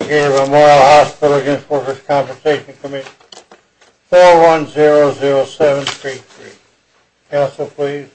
4100733. Counsel, please.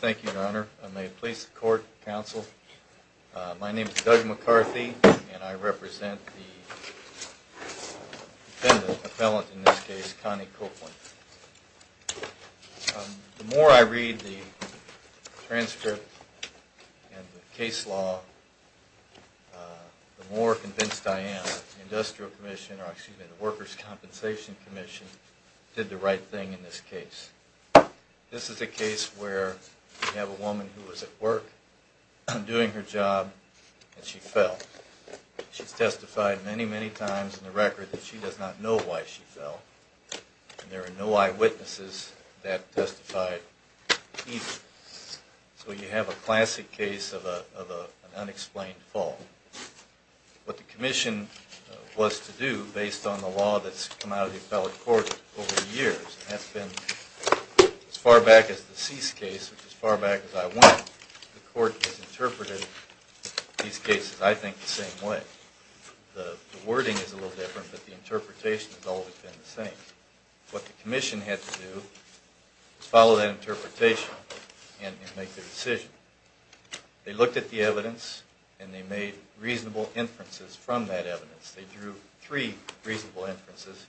Thank you, Your Honor. I may please the court, counsel. My name is Doug McCarthy, and I represent the defendant, appellant in this case, Connie Copeland. The more I read the transcript and the case law, the more convinced I am that the Workers' Compensation Commission did the right thing in this case. This is a case where you have a woman who was at work doing her job, and she fell. She's testified many, many times in the record that she does not know why she fell, and there are no eyewitnesses that testified either. So you have a classic case of an unexplained fall. What the commission was to do, based on the law that's come out of the appellate court over the years, and that's been as far back as the cease case, which is as far back as I went, the court has interpreted these cases, I think, the same way. The wording is a little different, but the interpretation has always been the same. What the commission had to do was follow that interpretation and make their decision. They looked at the evidence and they made reasonable inferences from that evidence. They drew three reasonable inferences,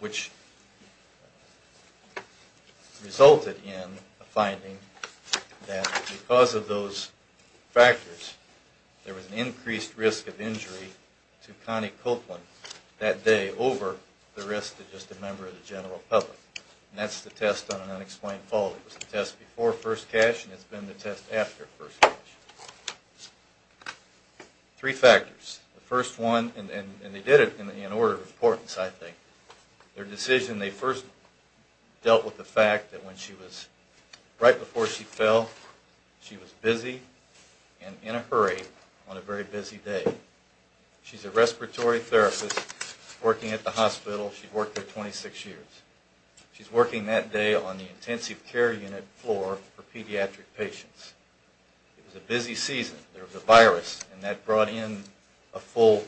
which resulted in a finding that because of those factors, there was an increased risk of injury to Connie Copeland that day over the risk to just a member of the general public. And that's the test on an unexplained fall. It was the test before first cash, and it's been the test after first cash. Three factors. The first one, and they did it in order of importance, I think. Their decision, they first dealt with the fact that right before she fell, she was busy and in a hurry on a very busy day. She's a respiratory therapist working at the hospital. She worked there 26 years. She's working that day on the intensive care unit floor for pediatric patients. It was a busy season. There was a virus, and that brought in a full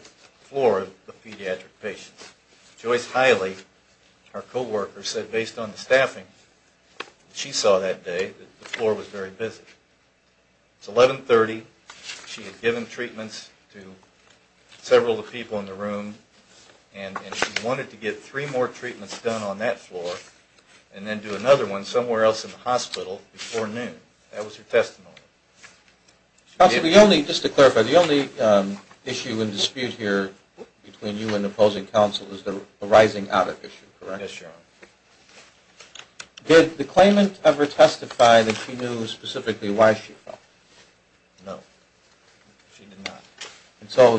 floor of pediatric patients. Joyce Hiley, our co-worker, said based on the staffing, she saw that day that the floor was very busy. It's 1130. She had given treatments to several of the people in the room, and she wanted to get three more treatments done on that floor and then do another one somewhere else in the hospital before noon. That was her testimony. Counsel, just to clarify, the only issue and dispute here between you and opposing counsel is the rising audit issue, correct? Yes, Your Honor. Did the claimant ever testify that she knew specifically why she fell? No, she did not. Yes, Your Honor.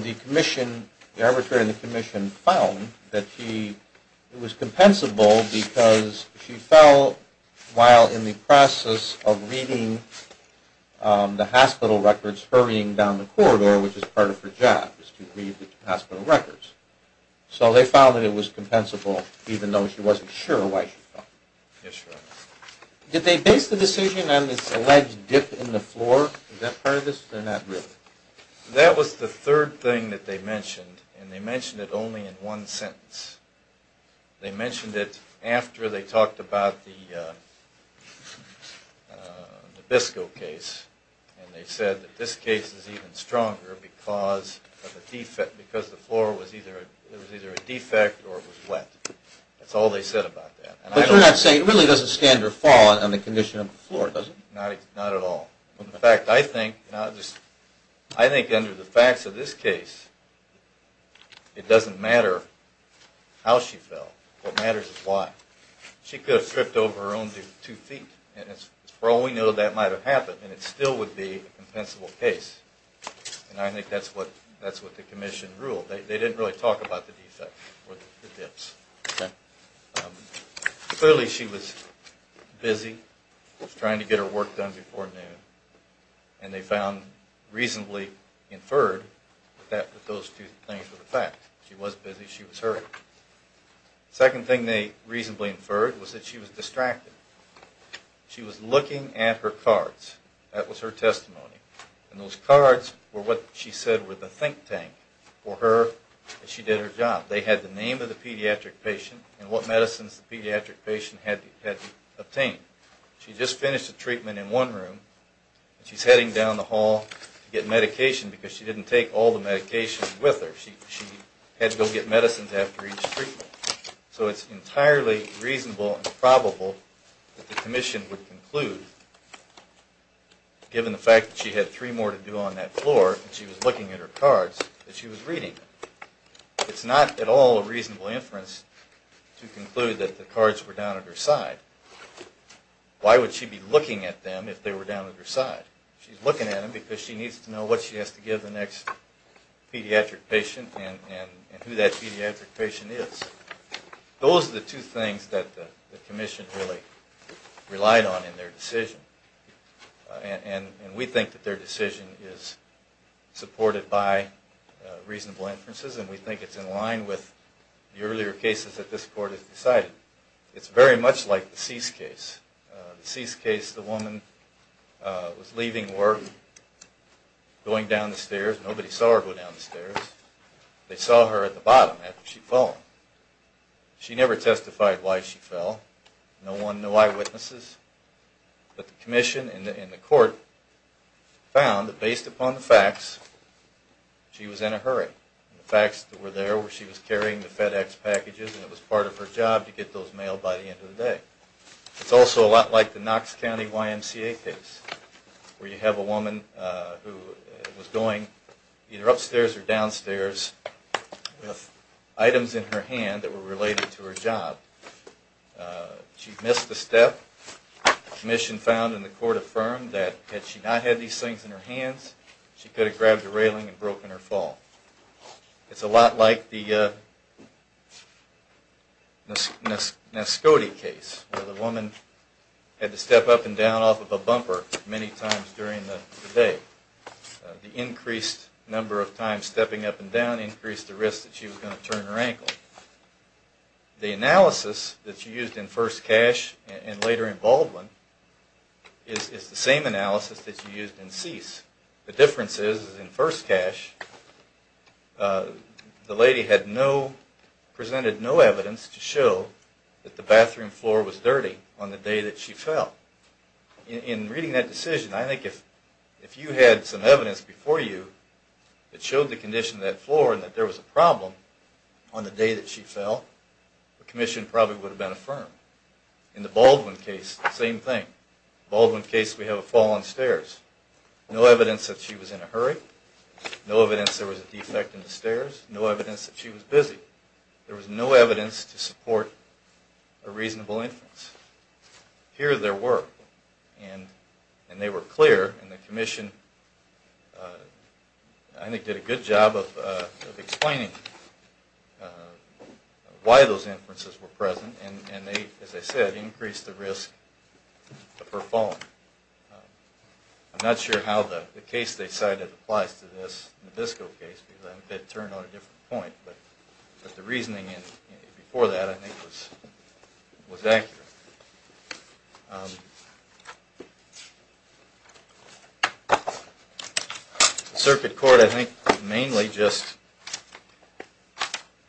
Did they base the decision on this alleged dip in the floor? Is that part of this, or not really? That was the third thing that they mentioned, and they mentioned it only in one sentence. They mentioned it after they talked about the Nabisco case, and they said that this case is even stronger because the floor was either a defect or it was wet. That's all they said about that. But you're not saying it really doesn't stand or fall on the condition of the floor, does it? Not at all. In fact, I think under the facts of this case, it doesn't matter how she fell. What matters is why. She could have tripped over her own two feet, and for all we know that might have happened, and it still would be a compensable case. And I think that's what the commission ruled. They didn't really talk about the defects or dips. Clearly she was busy, trying to get her work done before noon, and they found reasonably inferred that those two things were the facts. She was busy, she was hurried. Second thing they reasonably inferred was that she was distracted. She was looking at her cards. That was her testimony. And those cards were what she said were the think tank for her as she did her job. They had the name of the pediatric patient and what medicines the pediatric patient had obtained. She just finished a treatment in one room, and she's heading down the hall to get medication because she didn't take all the medication with her. She had to go get medicines after each treatment. So it's entirely reasonable and probable that the commission would conclude, given the fact that she had three more to do on that floor, and she was looking at her cards, that she was reading them. It's not at all a reasonable inference to conclude that the cards were down at her side. Why would she be looking at them if they were down at her side? She's looking at them because she needs to know what she has to give the next pediatric patient and who that pediatric patient is. Those are the two things that the commission really relied on in their decision. And we think that their decision is supported by reasonable inferences, and we think it's in line with the earlier cases that this court has decided. It's very much like the cease case. The cease case, the woman was leaving work, going down the stairs. Nobody saw her go down the stairs. They saw her at the bottom after she'd fallen. She never testified why she fell. No one, no eyewitnesses. But the commission and the court found that based upon the facts, she was in a hurry. The facts were there where she was carrying the FedEx packages, and it was part of her job to get those mailed by the end of the day. It's also a lot like the Knox County YMCA case, where you have a woman who was going either upstairs or downstairs with items in her hand that were related to her job. She missed a step. The commission found and the court affirmed that had she not had these things in her hands, she could have grabbed a railing and broken her fall. It's a lot like the Nascote case, where the woman had to step up and down off of a bumper many times during the day. The increased number of times stepping up and down increased the risk that she was going to turn her ankle. The analysis that you used in First Cash and later in Baldwin is the same analysis that you used in Cease. The difference is, in First Cash, the lady presented no evidence to show that the bathroom floor was dirty on the day that she fell. In reading that decision, I think if you had some evidence before you that showed the condition of that floor and that there was a problem on the day that she fell, the commission probably would have been affirmed. In the Baldwin case, same thing. Baldwin case, we have a fall on stairs. No evidence that she was in a hurry. No evidence there was a defect in the stairs. No evidence that she was busy. There was no evidence to support a reasonable inference. And they were clear, and the commission did a good job of explaining why those inferences were present, and as I said, increased the risk of her falling. I'm not sure how the case they cited applies to this Nascote case, but the reasoning before that I think was accurate. Circuit Court, I think, mainly just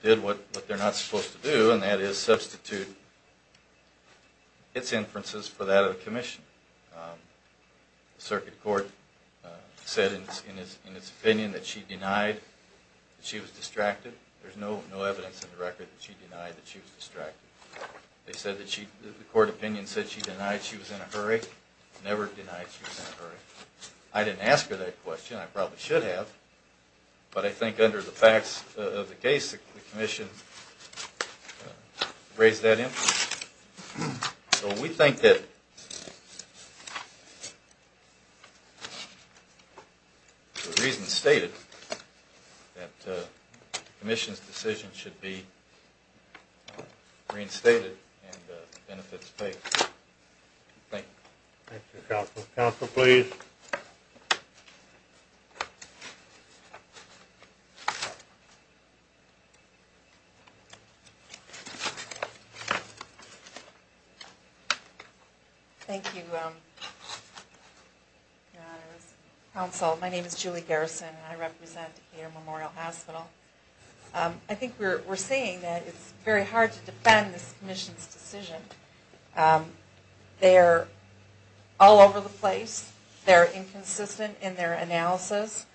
did what they're not supposed to do, and that is substitute its inferences for that of the commission. Circuit Court said in its opinion that she denied that she was distracted. There's no evidence in the record that she denied that she was distracted. They said that the court opinion said she denied she was in a hurry. Never denied she was in a hurry. I didn't ask her that question. I probably should have, but I think under the facts of the case, the commission raised that inference. Thank you, counsel. Counsel, please. Thank you, counsel. My name is Julie Garrison, and I represent Decatur Memorial Hospital. I think we're saying that it's very hard to defend this commission's decision. They're all over the place. They're inconsistent in their analysis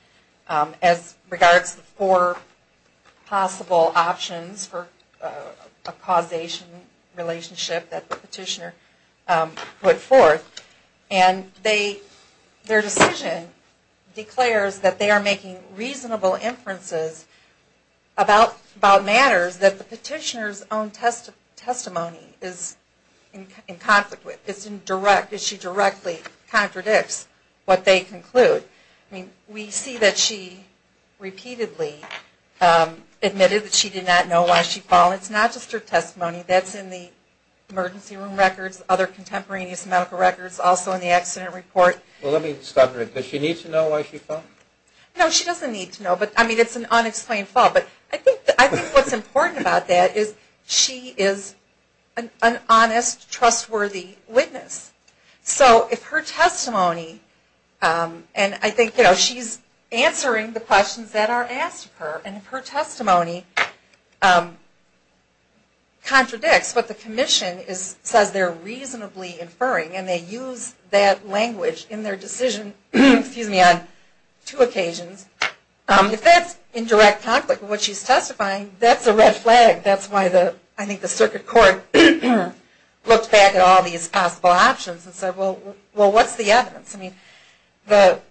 as regards the four possible options for a causation relationship that the petitioner put forth. And their decision declares that they are making reasonable inferences about matters that the petitioner's own testimony is in conflict with. It's indirect. She directly contradicts what they conclude. We see that she repeatedly admitted that she did not know why she fell. It's not just her testimony. That's in the emergency room records, other contemporaneous medical records, also in the accident report. Well, let me stop there. Does she need to know why she fell? No, she doesn't need to know. I mean, it's an unexplained fall, but I think what's important about that is she is an honest, trustworthy witness. So if her testimony, and I think she's answering the questions that are asked of her, and if her testimony contradicts what the commission says they're reasonably inferring, and they use that language in their decision on two occasions, if that's in direct conflict with what she's testifying, that's a red flag. That's why I think the circuit court looked back at all these possible options and said, well, what's the evidence? The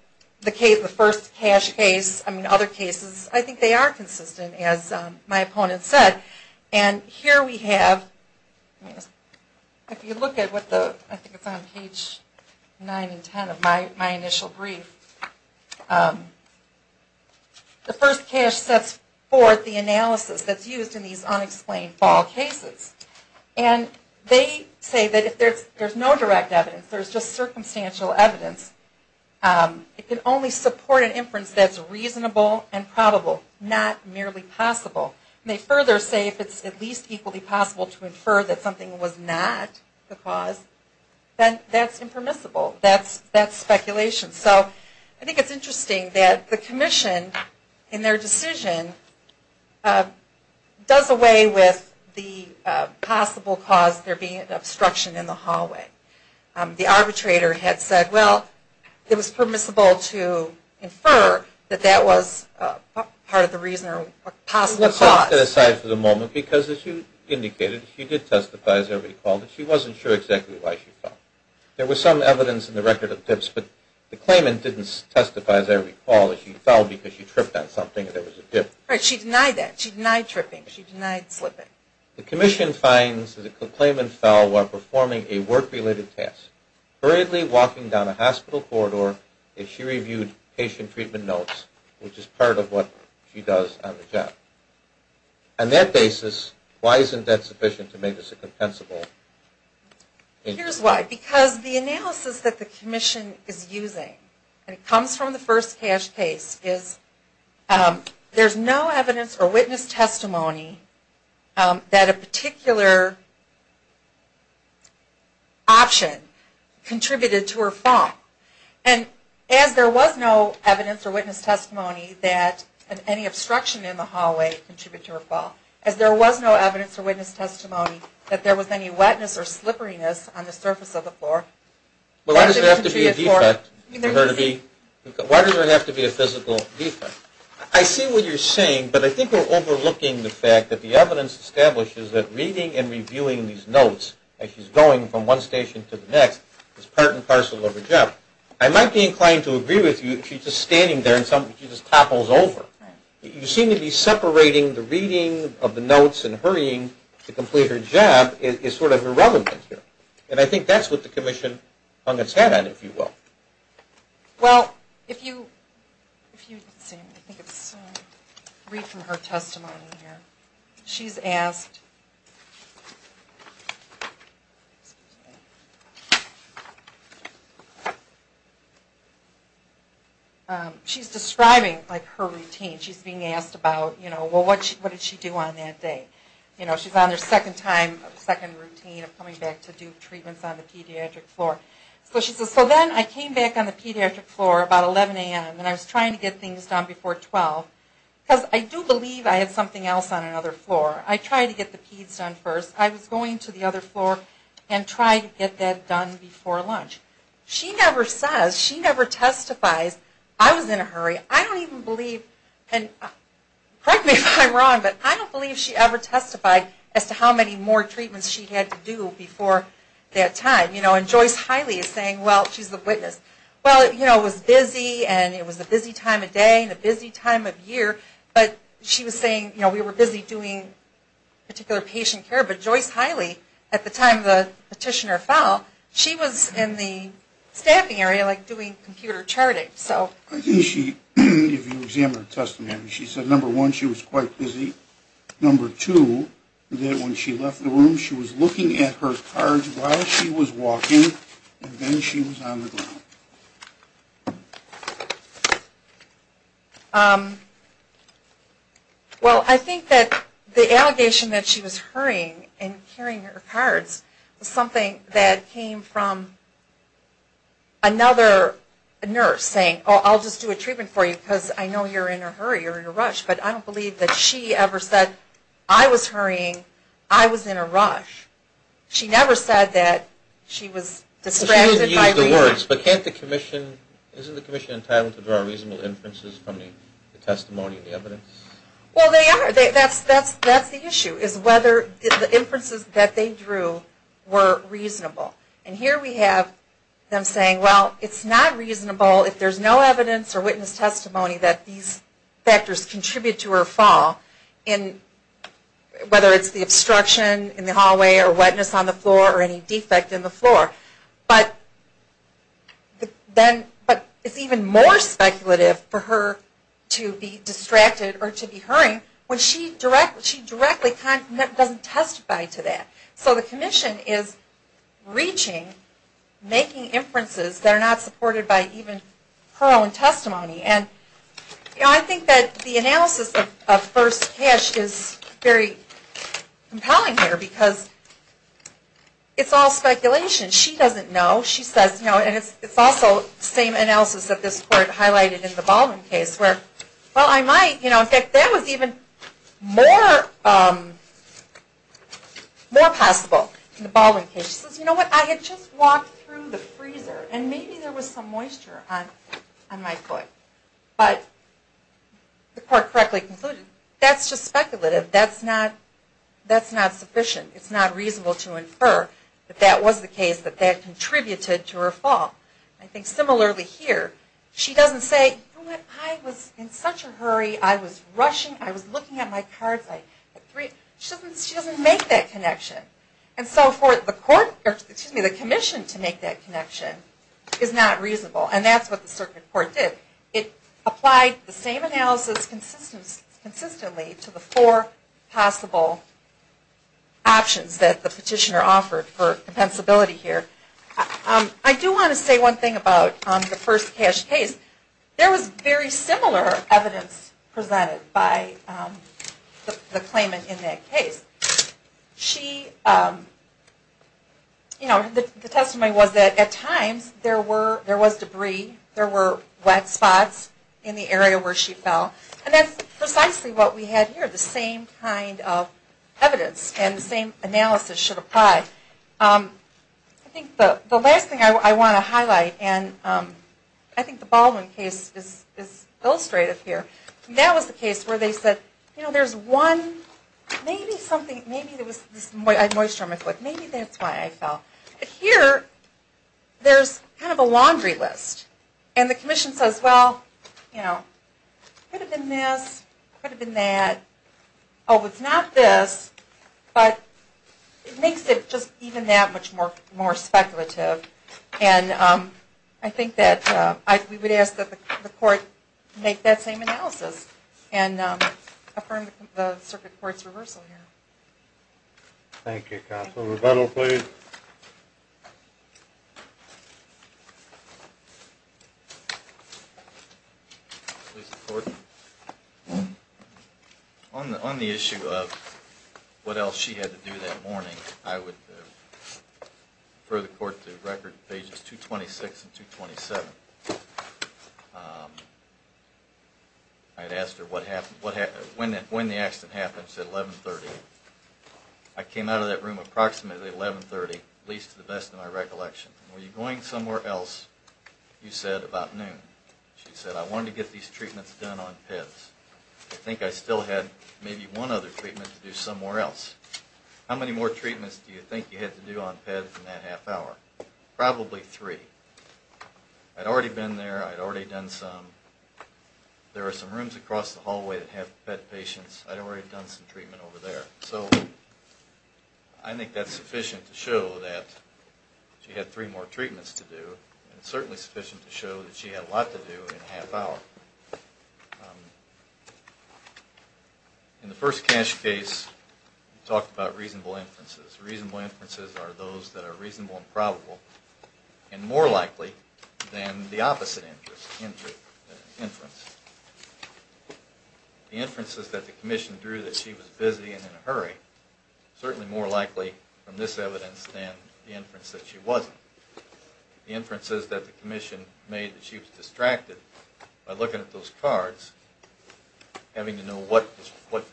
first cash case, I mean, other cases, I think they are consistent, as my opponent said. And here we have, if you look at what the, I think it's on page 9 and 10 of my initial brief, the first cash sets forth the analysis that's used in these unexplained fall cases. And they say that if there's no direct evidence, there's just circumstantial evidence, it can only support an inference that's reasonable and probable, not merely possible. And they further say if it's at least equally possible to infer that something was not the cause, then that's impermissible. That's speculation. So I think it's interesting that the commission, in their decision, does away with the possible cause there being an obstruction in the hallway. The arbitrator had said, well, it was permissible to infer that that was part of the reason or possible cause. Let's leave that aside for the moment, because as you indicated, she did testify, as I recall, that she wasn't sure exactly why she fell. There was some evidence in the record of dips, but the claimant didn't testify, as I recall, that she fell because she tripped on something and there was a dip. Right, she denied that. She denied tripping. She denied slipping. The commission finds that the claimant fell while performing a work-related task, hurriedly walking down a hospital corridor if she reviewed patient treatment notes, which is part of what she does on the job. On that basis, why isn't that sufficient to make this a compensable injury? Here's why. Because the analysis that the commission is using, and it comes from the first CASH case, is there's no evidence or witness testimony that a particular option contributed to her fall. And as there was no evidence or witness testimony that any obstruction in the hallway contributed to her fall, as there was no evidence or witness testimony that there was any wetness or slipperiness on the surface of the floor. Well, why does it have to be a defect for her to be? Why does it have to be a physical defect? I see what you're saying, but I think we're overlooking the fact that the evidence establishes that reading and reviewing these notes, as she's going from one station to the next, is part and parcel of her job. I might be inclined to agree with you if she's just standing there and she just topples over. You seem to be separating the reading of the notes and hurrying to complete her job is sort of irrelevant here. And I think that's what the commission hung its head on, if you will. Well, if you read from her testimony here, she's describing her routine. She's being asked about what did she do on that day. She's on her second routine of coming back to do treatments on the pediatric floor. So then I came back on the pediatric floor about 11 a.m. And I was trying to get things done before 12. Because I do believe I had something else on another floor. I tried to get the peds done first. I was going to the other floor and trying to get that done before lunch. She never says, she never testifies. I was in a hurry. And correct me if I'm wrong, but I don't believe she ever testified as to how many more treatments she had to do before that time. And Joyce Hiley is saying, well, she's the witness. Well, you know, it was busy and it was a busy time of day and a busy time of year. But she was saying, you know, we were busy doing particular patient care. But Joyce Hiley, at the time the petitioner fell, she was in the staffing area like doing computer charting. I think she, if you examine her testimony, she said, number one, she was quite busy. Number two, that when she left the room, she was looking at her cards while she was walking and then she was on the ground. Well, I think that the allegation that she was hurrying and carrying her cards was something that came from another nurse saying, oh, I'll just do a treatment for you because I know you're in a hurry or in a rush. But I don't believe that she ever said, I was hurrying, I was in a rush. She never said that she was distracted. She didn't use the words. But can't the commission, isn't the commission entitled to draw reasonable inferences from the testimony and the evidence? Well, they are. That's the issue, is whether the inferences that they drew were reasonable. And here we have them saying, well, it's not reasonable if there's no evidence or witness testimony that these factors contribute to the fall, whether it's the obstruction in the hallway or wetness on the floor or any defect in the floor. But it's even more speculative for her to be distracted or to be hurrying when she directly doesn't testify to that. So the commission is reaching, making inferences that are not supported by even her own testimony. And I think that the analysis of first cash is very compelling here because it's all speculation. She doesn't know. She says, you know, and it's also the same analysis that this court highlighted in the Baldwin case where, well, I might, you know, in fact, that was even more possible in the Baldwin case. She says, you know what, I had just walked through the freezer and maybe there was some moisture on my foot. But the court correctly concluded that's just speculative. That's not sufficient. It's not reasonable to infer that that was the case, that that contributed to her fall. I think similarly here, she doesn't say, you know what, I was in such a hurry. I was rushing. I was looking at my cards. She doesn't make that connection. And so for the commission to make that connection is not reasonable. And that's what the circuit court did. It applied the same analysis consistently to the four possible options that the petitioner offered for compensability here. I do want to say one thing about the first cash case. There was very similar evidence presented by the claimant in that case. She, you know, the testimony was that at times there was debris, there were wet spots in the area where she fell. And that's precisely what we had here, the same kind of evidence and the same analysis should apply. I think the last thing I want to highlight, and I think the Baldwin case is illustrative here. That was the case where they said, you know, there's one, maybe something, maybe there was moisture on my foot. Maybe that's why I fell. Here, there's kind of a laundry list. And the commission says, well, you know, could have been this, could have been that. Oh, it's not this. But it makes it just even that much more speculative. And I think that we would ask that the court make that same analysis and affirm the circuit court's reversal here. Thank you, counsel. Rebuttal, please. On the issue of what else she had to do that morning, I would refer the court to records pages 226 and 227. I had asked her when the accident happened, she said 1130. I came out of that room approximately at 1130, at least to the best of my recollection. Were you going somewhere else, you said, about noon. She said, I wanted to get these treatments done on Pibbs. I think I still had maybe one other treatment to do somewhere else. How many more treatments do you think you had to do on Pibbs in that half hour? Probably three. I'd already been there. I'd already done some. There are some rooms across the hallway that have Pibbs patients. I'd already done some treatment over there. So I think that's sufficient to show that she had three more treatments to do. It's certainly sufficient to show that she had a lot to do in a half hour. In the first cash case, we talked about reasonable inferences. Reasonable inferences are those that are reasonable and probable, and more likely than the opposite inference. The inferences that the commission drew that she was busy and in a hurry are certainly more likely from this evidence than the inference that she wasn't. The inferences that the commission made that she was distracted by looking at those cards, having to know what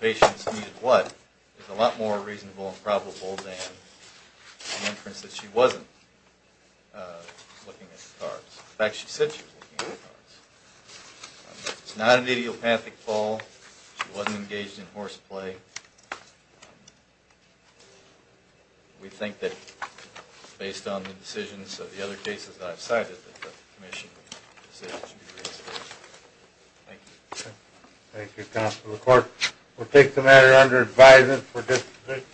patients needed what, is a lot more reasonable and probable than the inference that she wasn't looking at the cards. In fact, she said she was looking at the cards. It's not an idiopathic fall. She wasn't engaged in horseplay. We think that based on the decisions of the other cases that I've cited that the commission's decision should be reinstated. Thank you.